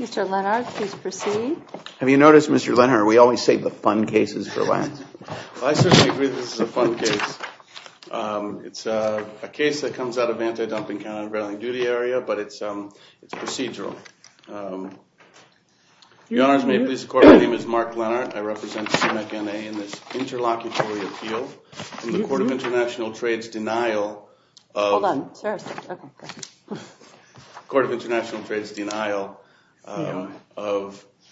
Mr. Lennard, please proceed. Have you noticed, Mr. Lennard, we always save the fun cases for last? I certainly agree that this is a fun case. It's a case that comes out of anti-dumping countervailing duty area, but it's procedural. Your Honor, may it please the Court, my name is Mark Lennard. I represent Sumecht NA in this interlocutory appeal in the Court of International Trade's denial of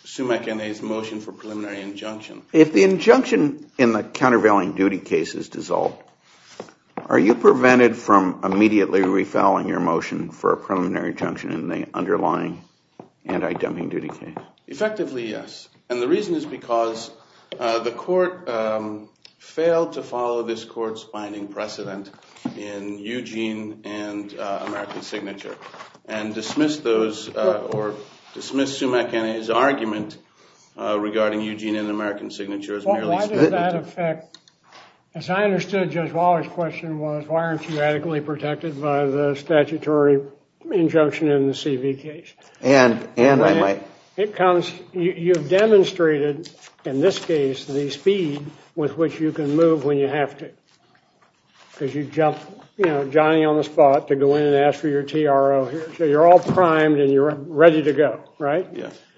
Sumecht NA's motion for preliminary injunction. If the injunction in the countervailing duty case is dissolved, are you prevented from immediately refouling your motion for a preliminary injunction in the underlying anti-dumping duty case? Effectively, yes. And the reason is because the Court failed to follow this Court's binding precedent in Eugene and American Signature. And dismiss those, or dismiss Sumecht NA's argument regarding Eugene and American Signature as merely split. Well, why does that affect, as I understood Judge Waller's question was, why aren't you adequately protected by the statutory injunction in the C.V. case? And I might. It comes, you've demonstrated in this case the speed with which you can move when you have to. Because you jump, you know, Johnny on the spot to go in and ask for your T.R.O. here. So you're all primed and you're ready to go, right?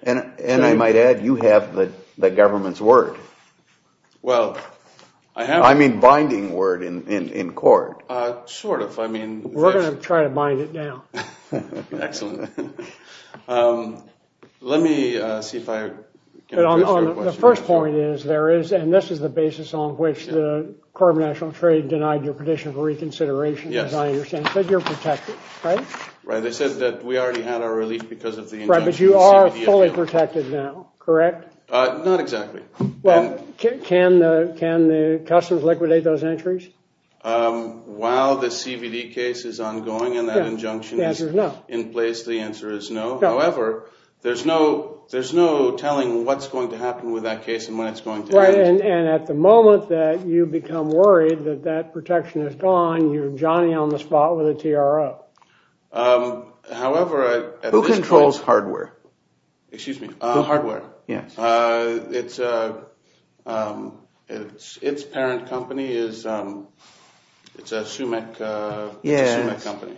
And I might add, you have the government's word. Well, I have. I mean binding word in court. Sort of, I mean. We're going to try to bind it down. Excellent. Let me see if I can address your question. The first point is, there is, and this is the basis on which the Court of National Trade denied your petition for reconsideration, as I understand. But you're protected, right? Right. They said that we already had our relief because of the injunction in the C.V. case. Right, but you are fully protected now, correct? Not exactly. Well, can the customers liquidate those entries? While the C.V.D. case is ongoing and that injunction is in place, the answer is no. However, there's no telling what's going to happen with that case and when it's going to end. And at the moment that you become worried that that protection is gone, you're Johnny on the spot with a T.R.O. However, at this point. Who controls hardware? Excuse me? Hardware. Yes. It's a parent company. It's a Sumic company.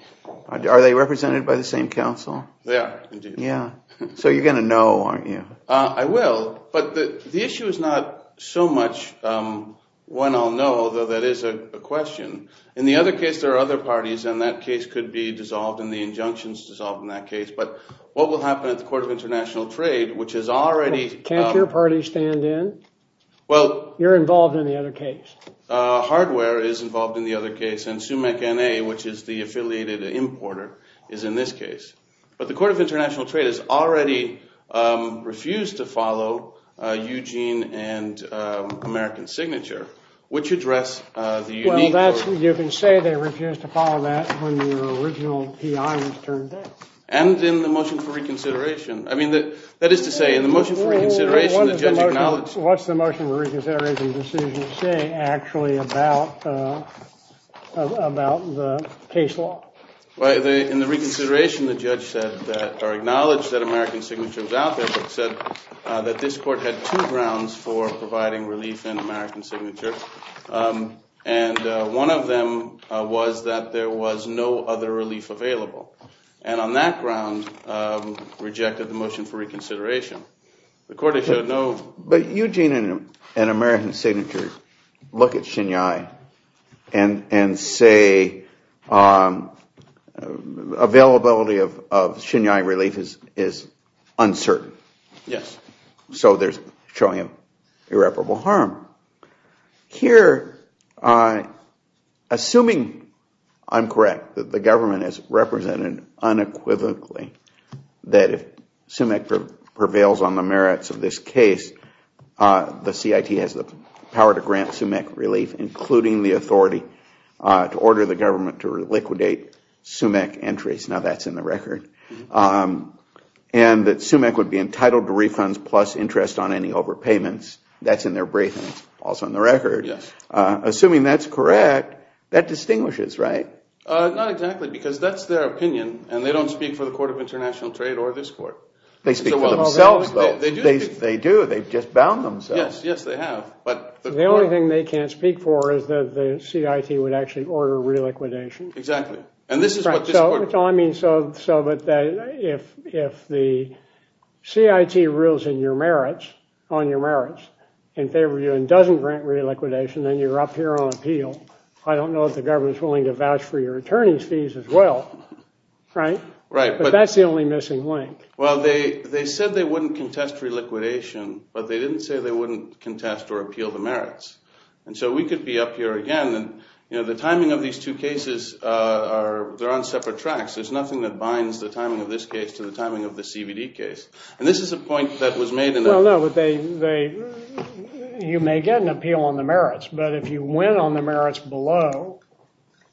Are they represented by the same council? They are, indeed. So you're going to know, aren't you? I will, but the issue is not so much one I'll know, although that is a question. In the other case, there are other parties and that case could be dissolved and the injunction is dissolved in that case. But what will happen at the Court of International Trade, which is already. Can't your party stand in? Well. You're involved in the other case. Hardware is involved in the other case and Sumic N.A., which is the affiliated importer, is in this case. But the Court of International Trade has already refused to follow Eugene and American Signature, which address the unique. You can say they refused to follow that when your original P.I. was turned down. And in the motion for reconsideration. I mean, that is to say, in the motion for reconsideration, the judge acknowledged. What's the motion for reconsideration decision say actually about the case law? In the reconsideration, the judge said or acknowledged that American Signature was out there, but said that this court had two grounds for providing relief in American Signature. And one of them was that there was no other relief available. And on that ground, rejected the motion for reconsideration. The court said no. But Eugene and American Signature look at Shinyai and say availability of Shinyai relief is uncertain. Yes. So they're showing irreparable harm. Here, assuming I'm correct, that the government has represented unequivocally that if Sumic prevails on the merits of this case, the CIT has the power to grant Sumic relief, including the authority to order the government to liquidate Sumic entries. Now, that's in the record. And that Sumic would be entitled to refunds plus interest on any overpayments. That's in their briefing, also in the record. Assuming that's correct, that distinguishes, right? Not exactly, because that's their opinion. And they don't speak for the Court of International Trade or this court. They speak for themselves, though. They do. They've just bound themselves. Yes, yes, they have. But the only thing they can't speak for is that the CIT would actually order reliquidation. Exactly. I mean, so if the CIT rules on your merits in favor of you and doesn't grant reliquidation, then you're up here on appeal. I don't know if the government's willing to vouch for your attorney's fees as well. Right? Right. But that's the only missing link. Well, they said they wouldn't contest reliquidation. But they didn't say they wouldn't contest or appeal the merits. And so we could be up here again. And, you know, the timing of these two cases, they're on separate tracks. There's nothing that binds the timing of this case to the timing of the CVD case. And this is a point that was made in the— Well, no, but they—you may get an appeal on the merits. But if you win on the merits below,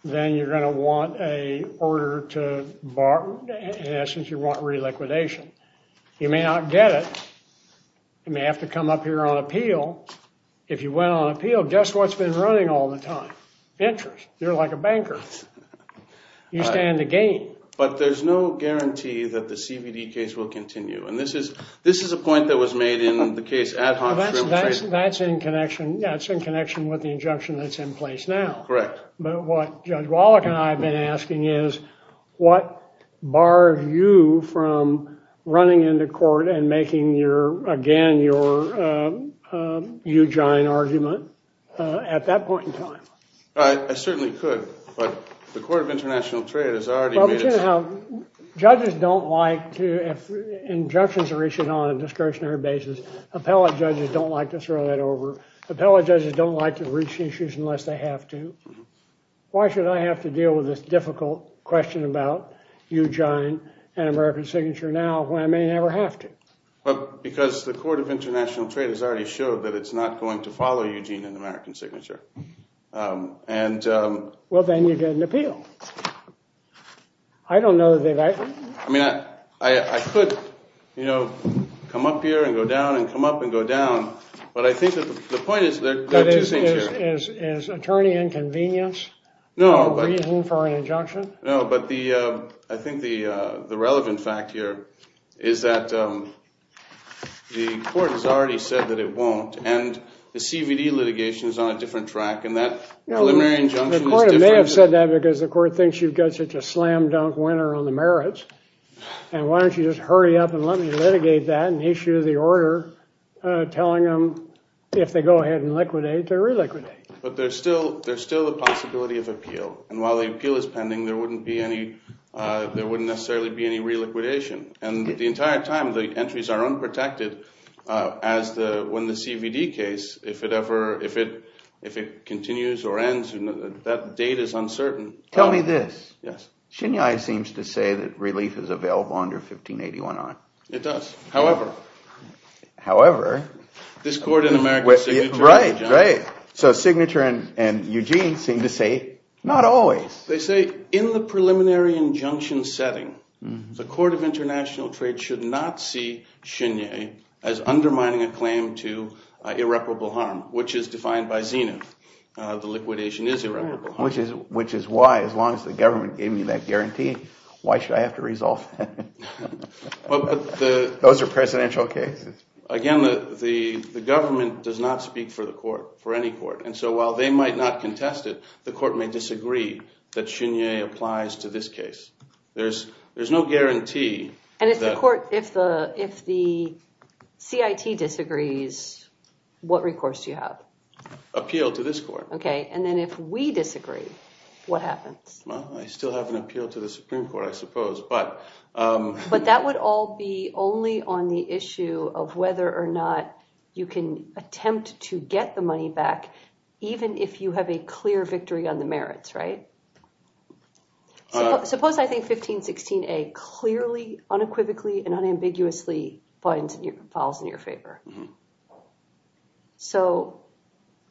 then you're going to want a order to—in essence, you want reliquidation. You may not get it. You may have to come up here on appeal. If you win on appeal, guess what's been running all the time? Interest. You're like a banker. You stand to gain. But there's no guarantee that the CVD case will continue. And this is a point that was made in the case Ad Hoc— That's in connection with the injunction that's in place now. Correct. But what Judge Wallach and I have been asking is, what bars you from running into court and making your—again, your huge, giant argument at that point in time? I certainly could. But the Court of International Trade has already made its— Judges don't like to—if injunctions are issued on a discretionary basis, appellate judges don't like to throw that over. Appellate judges don't like to reach issues unless they have to. Why should I have to deal with this difficult question about Eugene and American Signature now when I may never have to? Because the Court of International Trade has already showed that it's not going to follow Eugene and American Signature. And— Well, then you get an appeal. I don't know that I— I mean, I could, you know, come up here and go down and come up and go down. But I think that the point is there are two things here. Is attorney inconvenience a reason for an injunction? No, but the—I think the relevant fact here is that the Court has already said that it won't. And the CVD litigation is on a different track. And that preliminary injunction is different. The Court may have said that because the Court thinks you've got such a slam-dunk winner on the merits. And why don't you just hurry up and let me litigate that and issue the order telling them if they go ahead and liquidate, they reliquidate? But there's still a possibility of appeal. And while the appeal is pending, there wouldn't be any—there wouldn't necessarily be any reliquidation. And the entire time, the entries are unprotected as the—when the CVD case, if it ever—if it continues or ends, that date is uncertain. Tell me this. Yes. Shinyai seems to say that relief is available under 1581R. It does. However— However— This Court in American Signature— Right, right. So Signature and Eugene seem to say not always. They say in the preliminary injunction setting, the Court of International Trade should not see Shinyai as undermining a claim to irreparable harm, which is defined by Zenith. The liquidation is irreparable harm. Which is why, as long as the government gave me that guarantee, why should I have to resolve that? Those are presidential cases. Again, the government does not speak for the court, for any court. And so while they might not contest it, the court may disagree that Shinyai applies to this case. There's no guarantee that— And if the court—if the CIT disagrees, what recourse do you have? Appeal to this court. Okay. And then if we disagree, what happens? Well, I still have an appeal to the Supreme Court, I suppose. But that would all be only on the issue of whether or not you can attempt to get the money back, even if you have a clear victory on the merits, right? Suppose I think 1516a clearly, unequivocally, and unambiguously falls in your favor. So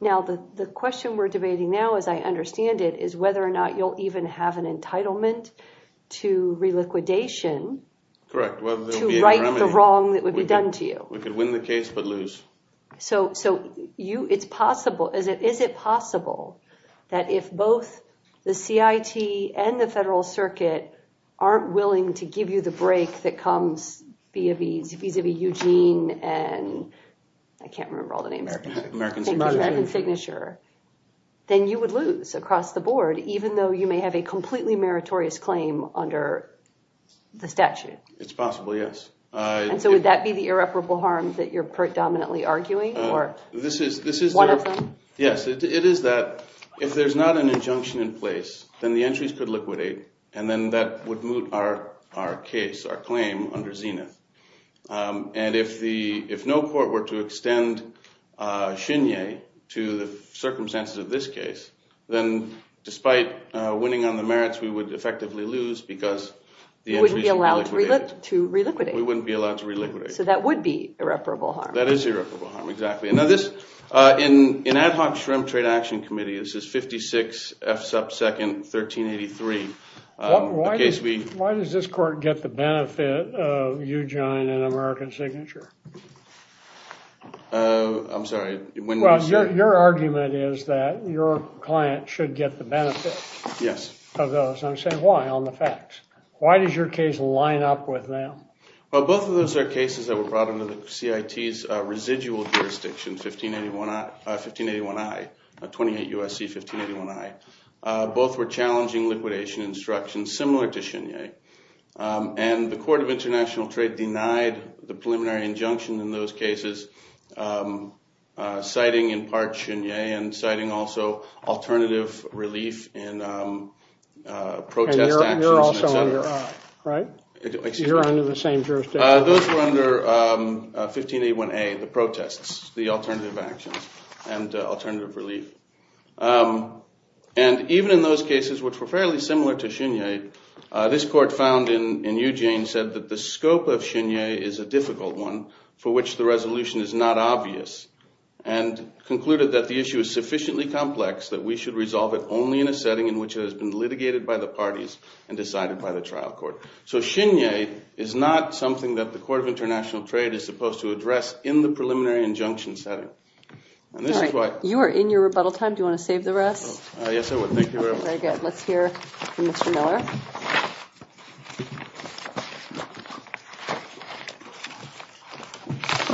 now the question we're debating now, as I understand it, is whether or not you'll even have an entitlement to reliquidation to right the wrong that would be done to you. We could win the case but lose. So it's possible—is it possible that if both the CIT and the Federal Circuit aren't willing to give you the break that comes vis-a-vis Eugene and—I can't remember all the names. American Signature. American Signature, then you would lose across the board, even though you may have a completely meritorious claim under the statute. It's possible, yes. And so would that be the irreparable harm that you're predominantly arguing, or one of them? Yes, it is that if there's not an injunction in place, then the entries could liquidate, and then that would moot our case, our claim under Zenith. And if no court were to extend chignon to the circumstances of this case, then despite winning on the merits, we would effectively lose because the entries would be liquidated. You wouldn't be allowed to reliquidate. We wouldn't be allowed to reliquidate. So that would be irreparable harm. That is irreparable harm, exactly. Now this—in ad hoc shrimp trade action committee, this is 56 F sub second 1383. Why does this court get the benefit of Eugene and American Signature? I'm sorry. Your argument is that your client should get the benefit of those. Yes. I'm saying why, on the facts. Why does your case line up with them? Well, both of those are cases that were brought under the CIT's residual jurisdiction, 1581I, 28 U.S.C. 1581I. Both were challenging liquidation instructions similar to Chenier. And the Court of International Trade denied the preliminary injunction in those cases, citing in part Chenier and citing also alternative relief in protest actions. You're under the same jurisdiction. Those were under 1581A, the protests, the alternative actions and alternative relief. And even in those cases, which were fairly similar to Chenier, this court found in Eugene said that the scope of Chenier is a difficult one for which the resolution is not obvious and concluded that the issue is sufficiently complex that we should resolve it only in a setting in which it has been litigated by the parties and decided by the trial court. So Chenier is not something that the Court of International Trade is supposed to address in the preliminary injunction setting. You are in your rebuttal time. Do you want to save the rest? Yes, I would. Thank you very much. Very good. Let's hear from Mr. Miller.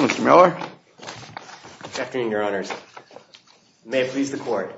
Mr. Miller. Good afternoon, Your Honors. May it please the Court.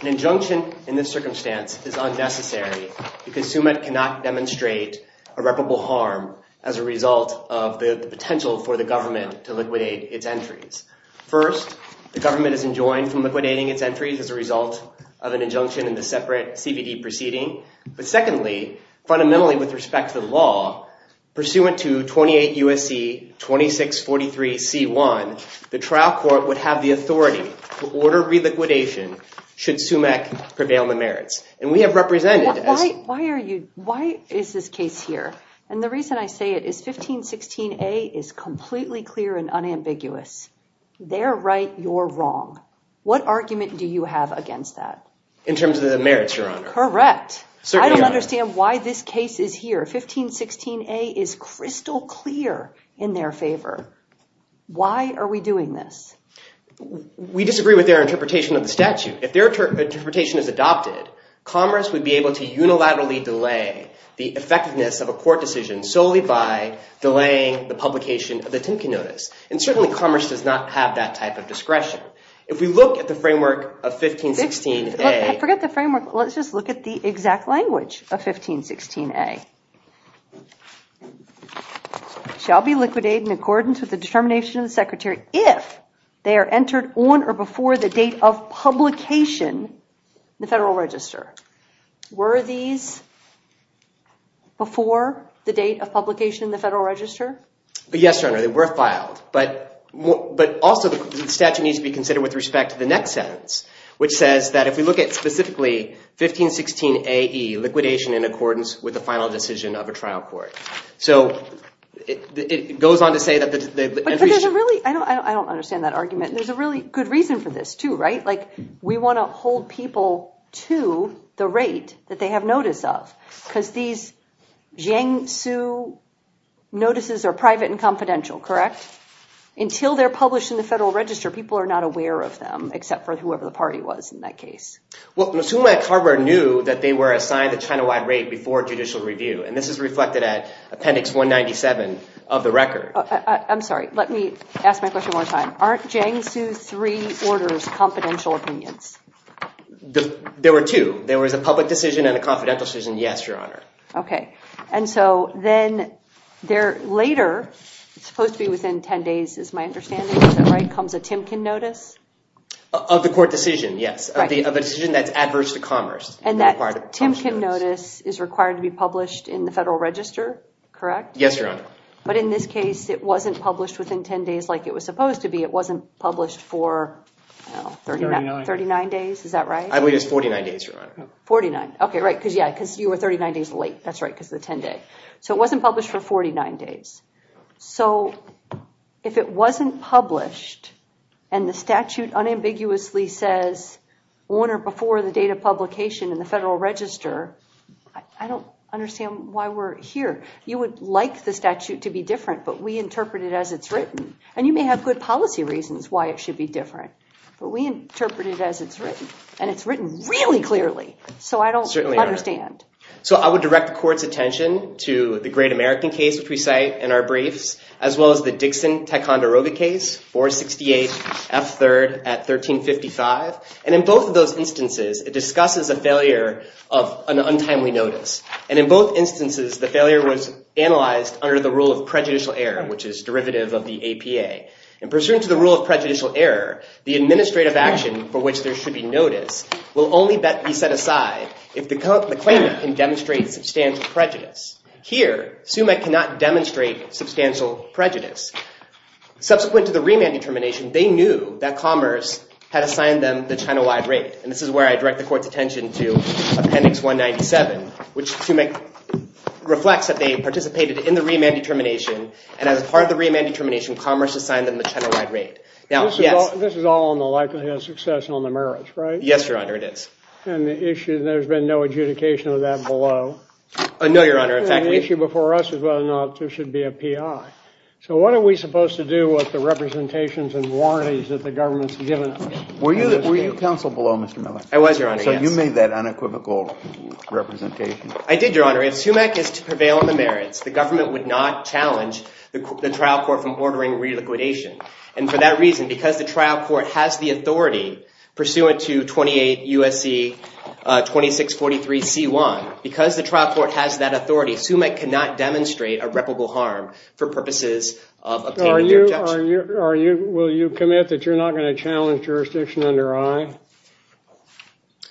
An injunction in this circumstance is unnecessary because Sumit cannot demonstrate irreparable harm as a result of the potential for the government to liquidate its entries. First, the government is enjoined from liquidating its entries as a result of an injunction in the separate CBD proceeding. But secondly, fundamentally with respect to the law, pursuant to 28 U.S.C. 2643 C.1, the trial court would have the authority to order reliquidation should Sumit prevail on the merits. And we have represented as… Why are you… Why is this case here? And the reason I say it is 1516A is completely clear and unambiguous. They're right. You're wrong. What argument do you have against that? In terms of the merits, Your Honor. You're correct. I don't understand why this case is here. 1516A is crystal clear in their favor. Why are we doing this? We disagree with their interpretation of the statute. If their interpretation is adopted, Commerce would be able to unilaterally delay the effectiveness of a court decision solely by delaying the publication of the Timken Notice. And certainly Commerce does not have that type of discretion. If we look at the framework of 1516A… Forget the framework. Let's just look at the exact language of 1516A. Shall be liquidated in accordance with the determination of the Secretary if they are entered on or before the date of publication in the Federal Register. Were these before the date of publication in the Federal Register? Yes, Your Honor. They were filed. But also the statute needs to be considered with respect to the next sentence, which says that if we look at specifically 1516AE, liquidation in accordance with the final decision of a trial court. So it goes on to say that the… But there's a really… I don't understand that argument. There's a really good reason for this too, right? Like we want to hold people to the rate that they have notice of because these Jiangsu notices are private and confidential, correct? But until they're published in the Federal Register, people are not aware of them, except for whoever the party was in that case. Well, Musuma and Carver knew that they were assigned a China-wide rate before judicial review, and this is reflected at Appendix 197 of the record. I'm sorry. Let me ask my question one more time. Aren't Jiangsu III orders confidential opinions? There were two. There was a public decision and a confidential decision, yes, Your Honor. Okay. And so then later, it's supposed to be within 10 days is my understanding, is that right, comes a Timken notice? Of the court decision, yes, of a decision that's adverse to commerce. And that Timken notice is required to be published in the Federal Register, correct? Yes, Your Honor. But in this case, it wasn't published within 10 days like it was supposed to be. It wasn't published for 39 days, is that right? I believe it was 49 days, Your Honor. 49. Okay, right, because, yeah, because you were 39 days late. That's right, because of the 10-day. So it wasn't published for 49 days. So if it wasn't published and the statute unambiguously says on or before the date of publication in the Federal Register, I don't understand why we're here. You would like the statute to be different, but we interpret it as it's written. And you may have good policy reasons why it should be different, but we interpret it as it's written. And it's written really clearly, so I don't understand. Certainly, Your Honor. So I would direct the court's attention to the Great American case, which we cite in our briefs, as well as the Dixon-Ticonderoga case, 468F3rd at 1355. And in both of those instances, it discusses a failure of an untimely notice. And in both instances, the failure was analyzed under the rule of prejudicial error, which is derivative of the APA. And pursuant to the rule of prejudicial error, the administrative action for which there should be notice will only be set aside if the claimant can demonstrate substantial prejudice. Here, SUMEC cannot demonstrate substantial prejudice. Subsequent to the remand determination, they knew that Commerce had assigned them the China-wide rate. And this is where I direct the court's attention to Appendix 197, which SUMEC reflects that they participated in the remand determination. And as part of the remand determination, Commerce assigned them the China-wide rate. Now, yes? This is all on the likelihood of success and on the merits, right? Yes, Your Honor, it is. And the issue, there's been no adjudication of that below. No, Your Honor. In fact, the issue before us is whether or not there should be a PI. So what are we supposed to do with the representations and warranties that the government's given us? Were you counsel below, Mr. Miller? I was, Your Honor, yes. So you made that unequivocal representation? I did, Your Honor. If SUMEC is to prevail on the merits, the government would not challenge the trial court from ordering reliquidation. And for that reason, because the trial court has the authority, pursuant to 28 U.S.C. 2643c1, because the trial court has that authority, SUMEC cannot demonstrate a reputable harm for purposes of obtaining an adjudication. Will you commit that you're not going to challenge jurisdiction under I?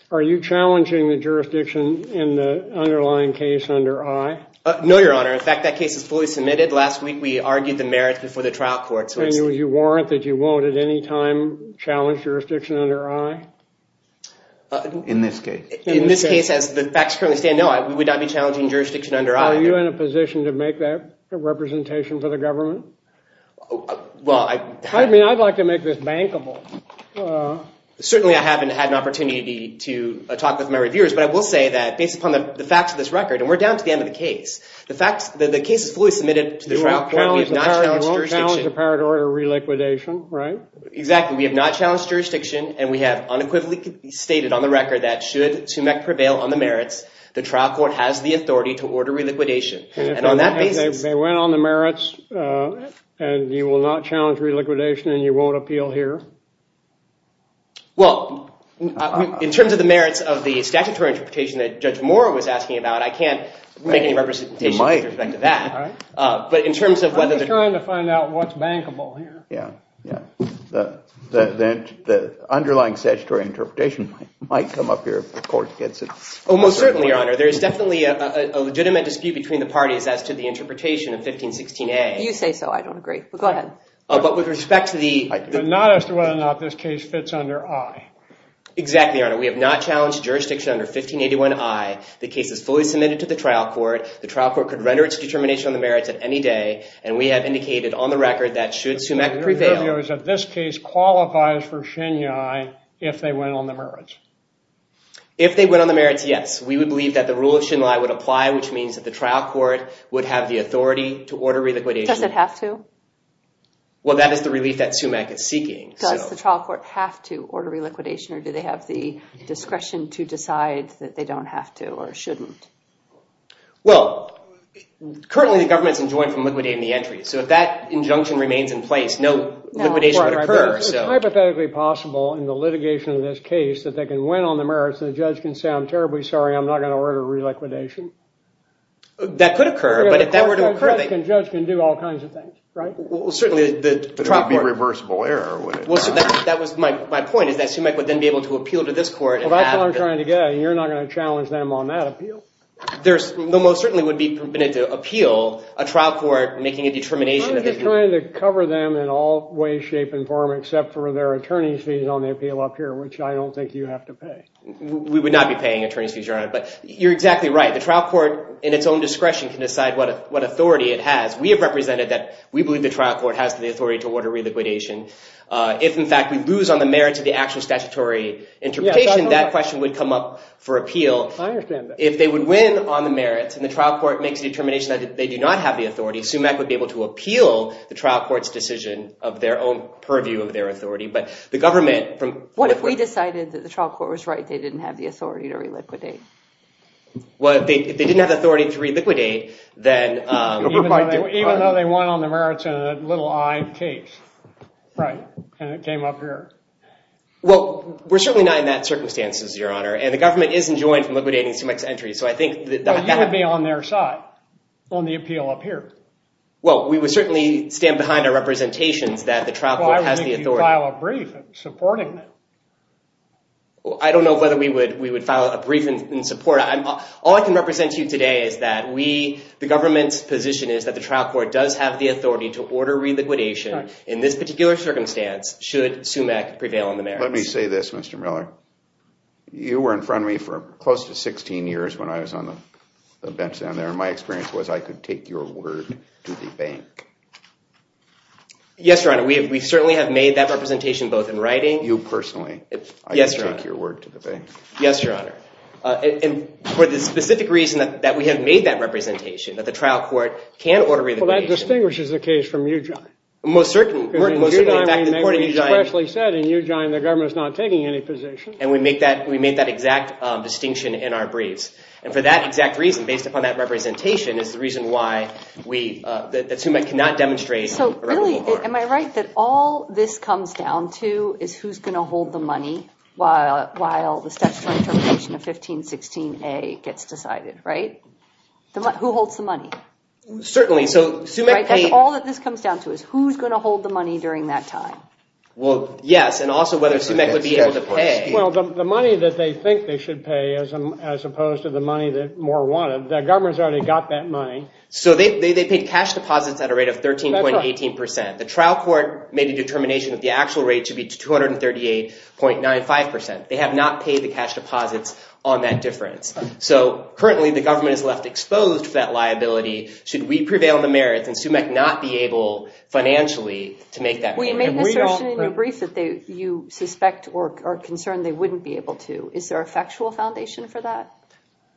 Are you challenging the jurisdiction in the underlying case under I? No, Your Honor. In fact, that case is fully submitted. Last week, we argued the merits before the trial court. And will you warrant that you won't at any time challenge jurisdiction under I? In this case. In this case, as the facts currently stand, no, we would not be challenging jurisdiction under I. Are you in a position to make that a representation for the government? Well, I – I mean, I'd like to make this bankable. Certainly, I haven't had an opportunity to talk with my reviewers. But I will say that based upon the facts of this record, and we're down to the end of the case, the case is fully submitted to the trial court. You won't challenge the power to order reliquidation, right? Exactly. We have not challenged jurisdiction. And we have unequivocally stated on the record that should SUMEC prevail on the merits, the trial court has the authority to order reliquidation. And on that basis – They went on the merits, and you will not challenge reliquidation, and you won't appeal here? Well, in terms of the merits of the statutory interpretation that Judge Moore was asking about, I can't make any representation with respect to that. But in terms of whether – I'm just trying to find out what's bankable here. Yeah, yeah. The underlying statutory interpretation might come up here if the court gets it. Oh, most certainly, Your Honor. There is definitely a legitimate dispute between the parties as to the interpretation of 1516A. You say so. I don't agree. Go ahead. But with respect to the – But not as to whether or not this case fits under I. Exactly, Your Honor. We have not challenged jurisdiction under 1581I. The case is fully submitted to the trial court. The trial court could render its determination on the merits at any day, and we have indicated on the record that should SUMEC prevail – Your interview is that this case qualifies for Shinyai if they went on the merits. If they went on the merits, yes. We would believe that the rule of Shinyai would apply, which means that the trial court would have the authority to order reliquidation. Does it have to? Well, that is the relief that SUMEC is seeking. Does the trial court have to order reliquidation, or do they have the discretion to decide that they don't have to or shouldn't? Well, currently the government is enjoined from liquidating the entry, so if that injunction remains in place, no liquidation would occur. It's hypothetically possible in the litigation of this case that they can went on the merits and the judge can say, I'm terribly sorry, I'm not going to order reliquidation. That could occur, but if that were to occur – The judge can do all kinds of things, right? Well, certainly the trial court – But it would be a reversible error, wouldn't it? Well, that was my point, is that SUMEC would then be able to appeal to this court and have – Well, that's what I'm trying to get at. You're not going to challenge them on that appeal. There's – well, certainly would be permitted to appeal a trial court making a determination – I'm just trying to cover them in all ways, shape, and form, except for their attorney's fees on the appeal up here, which I don't think you have to pay. We would not be paying attorney's fees, Your Honor. But you're exactly right. The trial court in its own discretion can decide what authority it has. We have represented that we believe the trial court has the authority to order reliquidation. If, in fact, we lose on the merits of the actual statutory interpretation, that question would come up for appeal. I understand that. If they would win on the merits and the trial court makes a determination that they do not have the authority, SUMEC would be able to appeal the trial court's decision of their own purview of their authority. But the government – What if we decided that the trial court was right, they didn't have the authority to reliquidate? Well, if they didn't have the authority to reliquidate, then – Even though they won on the merits in a little-eyed case. Right. And it came up here. Well, we're certainly not in that circumstance, Your Honor. And the government isn't joined from liquidating SUMEC's entry. So I think – I'd be on their side on the appeal up here. Well, we would certainly stand behind our representations that the trial court has the authority. Well, I would make you file a brief in supporting that. I don't know whether we would file a brief in support. All I can represent to you today is that we – the government's position is that the trial court does have the authority to order reliquidation in this particular circumstance should SUMEC prevail on the merits. Let me say this, Mr. Miller. You were in front of me for close to 16 years when I was on the bench down there, and my experience was I could take your word to the bank. Yes, Your Honor. We certainly have made that representation both in writing – You personally. Yes, Your Honor. I could take your word to the bank. Yes, Your Honor. And for the specific reason that we have made that representation, that the trial court can order reliquidation – Well, that distinguishes the case from Ujijin. Most certainly. We especially said in Ujijin the government is not taking any position. And we made that exact distinction in our briefs. And for that exact reason, based upon that representation, is the reason why we – that SUMEC cannot demonstrate – So really, am I right that all this comes down to is who's going to hold the money while the statutory interpretation of 1516A gets decided, right? Who holds the money? Certainly. Right, that's all that this comes down to is who's going to hold the money during that time. Well, yes, and also whether SUMEC would be able to pay. Well, the money that they think they should pay as opposed to the money that Moore wanted, the government's already got that money. So they paid cash deposits at a rate of 13.18%. The trial court made a determination that the actual rate should be 238.95%. They have not paid the cash deposits on that difference. So currently the government is left exposed for that liability. Should we prevail in the merits and SUMEC not be able financially to make that payment? We made an assertion in your brief that you suspect or are concerned they wouldn't be able to. Is there a factual foundation for that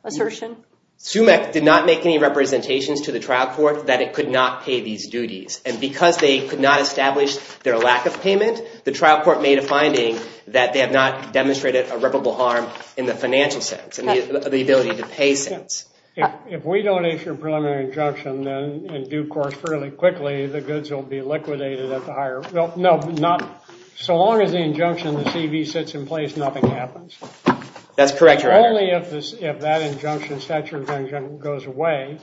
assertion? SUMEC did not make any representations to the trial court that it could not pay these duties. And because they could not establish their lack of payment, the trial court made a finding that they have not demonstrated irreparable harm in the financial sense, in the ability to pay sense. If we don't issue a preliminary injunction and due course fairly quickly, the goods will be liquidated at the higher – no, not – so long as the injunction, the CV, sits in place, nothing happens. That's correct, Your Honor. Only if that injunction, statute of injunction, goes away,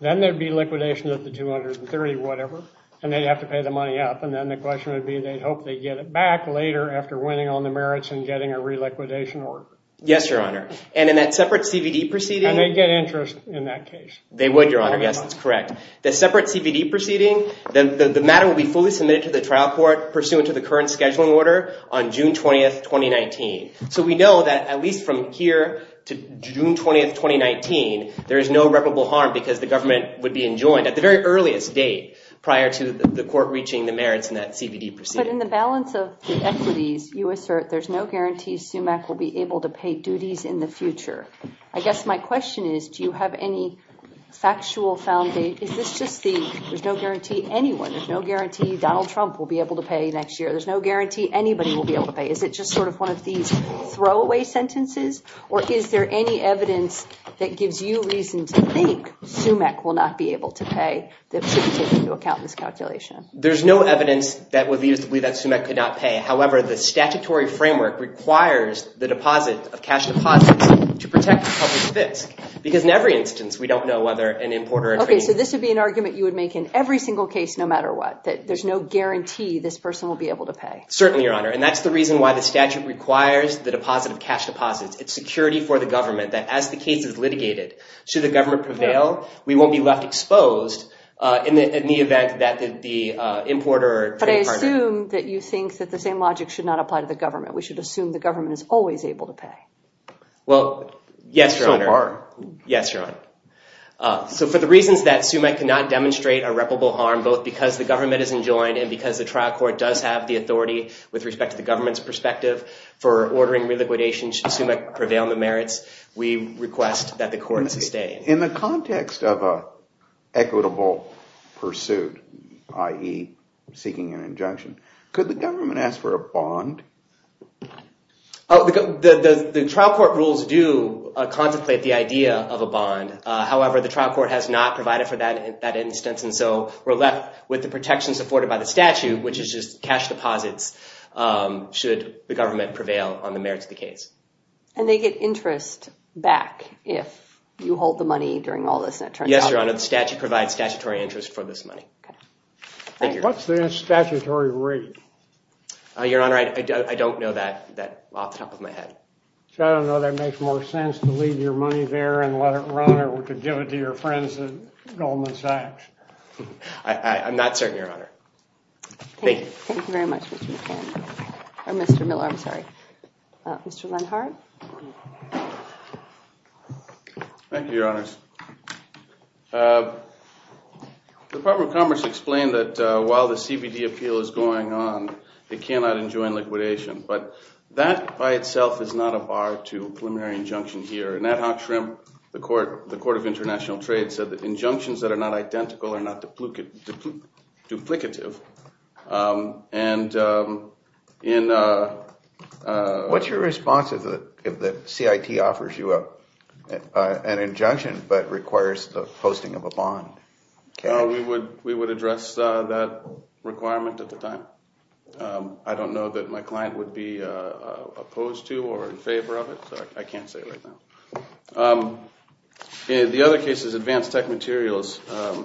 then there would be liquidation at the 230 or whatever, and they'd have to pay the money up. And then the question would be they'd hope they'd get it back later after winning on the merits and getting a reliquidation order. Yes, Your Honor. And in that separate CVD proceeding? And they'd get interest in that case. They would, Your Honor. Yes, that's correct. The separate CVD proceeding, the matter would be fully submitted to the trial court pursuant to the current scheduling order on June 20, 2019. So we know that at least from here to June 20, 2019, there is no irreparable harm because the government would be enjoined at the very earliest date prior to the court reaching the merits in that CVD proceeding. But in the balance of the equities, you assert there's no guarantee SUMEC will be able to pay duties in the future. I guess my question is, do you have any factual foundation? Is this just the, there's no guarantee anyone, there's no guarantee Donald Trump will be able to pay next year, there's no guarantee anybody will be able to pay. Is it just sort of one of these throwaway sentences? Or is there any evidence that gives you reason to think SUMEC will not be able to pay that should be taken into account in this calculation? There's no evidence that would be used to believe that SUMEC could not pay. However, the statutory framework requires the deposit of cash deposits to protect the public fisc. Because in every instance, we don't know whether an importer... Okay, so this would be an argument you would make in every single case no matter what, that there's no guarantee this person will be able to pay. Certainly, Your Honor. And that's the reason why the statute requires the deposit of cash deposits. It's security for the government that as the case is litigated, should the government prevail, we won't be left exposed in the event that the importer... But I assume that you think that the same logic should not apply to the government. We should assume the government is always able to pay. Well, yes, Your Honor. Yes, Your Honor. So for the reasons that SUMEC cannot demonstrate irreparable harm, both because the government is enjoined and because the trial court does have the authority with respect to the government's perspective for ordering reliquidation, should SUMEC prevail on the merits, we request that the court sustain. In the context of an equitable pursuit, i.e. seeking an injunction, could the government ask for a bond? The trial court rules do contemplate the idea of a bond. However, the trial court has not provided for that instance, and so we're left with the protections afforded by the statute, which is just cash deposits should the government prevail on the merits of the case. And they get interest back if you hold the money during all this? Yes, Your Honor. The statute provides statutory interest for this money. What's the statutory rate? Your Honor, I don't know that off the top of my head. So I don't know if that makes more sense to leave your money there and let it run or to give it to your friends at Goldman Sachs. I'm not certain, Your Honor. Thank you. Thank you very much, Mr. McCann. Or Mr. Miller, I'm sorry. Mr. Lenhardt? Thank you, Your Honors. The Department of Commerce explained that while the CBD appeal is going on, they cannot enjoin liquidation. But that by itself is not a bar to preliminary injunction here. Nat Hockshrim, the Court of International Trade, said that injunctions that are not identical are not duplicative. What's your response if the CIT offers you an injunction, but requires the posting of a bond? We would address that requirement at the time. I don't know that my client would be opposed to or in favor of it. I can't say right now. The other case is Advanced Tech Materials.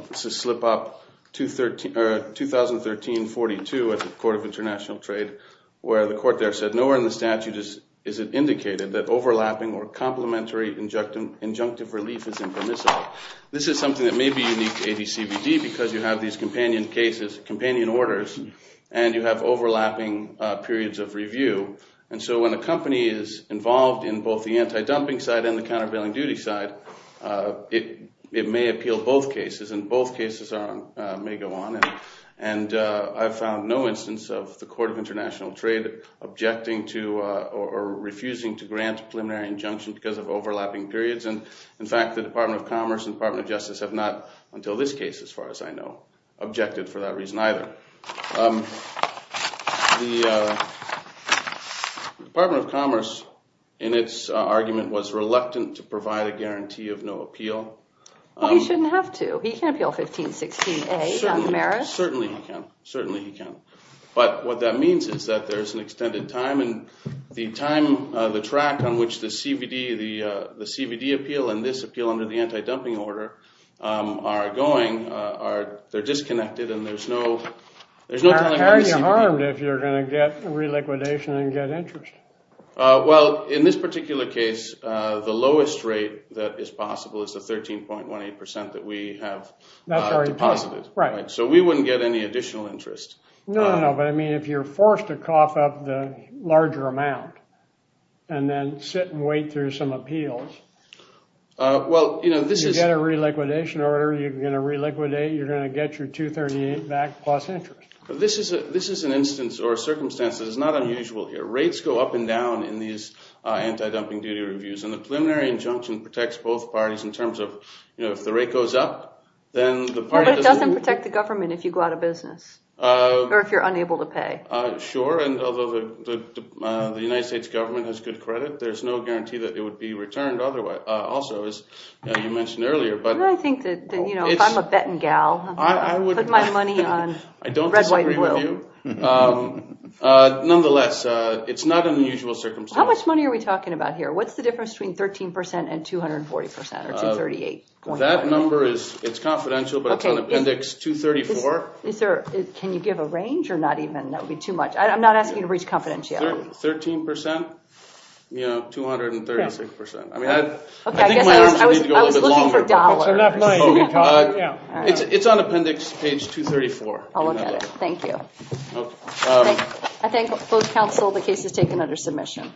This is slip-up 2013-42 at the Court of International Trade, where the court there said, Nowhere in the statute is it indicated that overlapping or complementary injunctive relief is impermissible. This is something that may be unique to ADCBD because you have these companion cases, companion orders, and you have overlapping periods of review. And so when a company is involved in both the anti-dumping side and the countervailing duty side, it may appeal both cases, and both cases may go on. I've found no instance of the Court of International Trade objecting to or refusing to grant a preliminary injunction because of overlapping periods. In fact, the Department of Commerce and the Department of Justice have not, until this case, as far as I know, objected for that reason either. The Department of Commerce, in its argument, was reluctant to provide a guarantee of no appeal. Well, he shouldn't have to. He can appeal 1516A on the merits. Certainly he can. Certainly he can. But what that means is that there's an extended time, and the time, the track on which the CBD appeal and this appeal under the anti-dumping order are going, they're disconnected, and there's no time limit on CBD. How are you harmed if you're going to get reliquidation and get interest? Well, in this particular case, the lowest rate that is possible is the 13.18% that we have deposited. So we wouldn't get any additional interest. No, no, no. But, I mean, if you're forced to cough up the larger amount and then sit and wait through some appeals, you get a reliquidation order, you're going to reliquidate, you're going to get your 238 back plus interest. This is an instance or circumstance that is not unusual here. Rates go up and down in these anti-dumping duty reviews, and the preliminary injunction protects both parties in terms of, you know, if the rate goes up, then the party doesn't. But it doesn't protect the government if you go out of business or if you're unable to pay. Sure, and although the United States government has good credit, there's no guarantee that it would be returned also, as you mentioned earlier. I think that, you know, if I'm a betting gal, I would put my money on red, white, and blue. I don't disagree with you. Nonetheless, it's not an unusual circumstance. How much money are we talking about here? What's the difference between 13% and 240% or 238? That number is confidential, but it's on appendix 234. Can you give a range or not even? That would be too much. I'm not asking you to reach confidentiality. 13%, you know, 236%. I mean, I think my arms need to go a little bit longer. It's on appendix page 234. I'll look at it. Thank you. I thank both counsel. The case is taken under submission.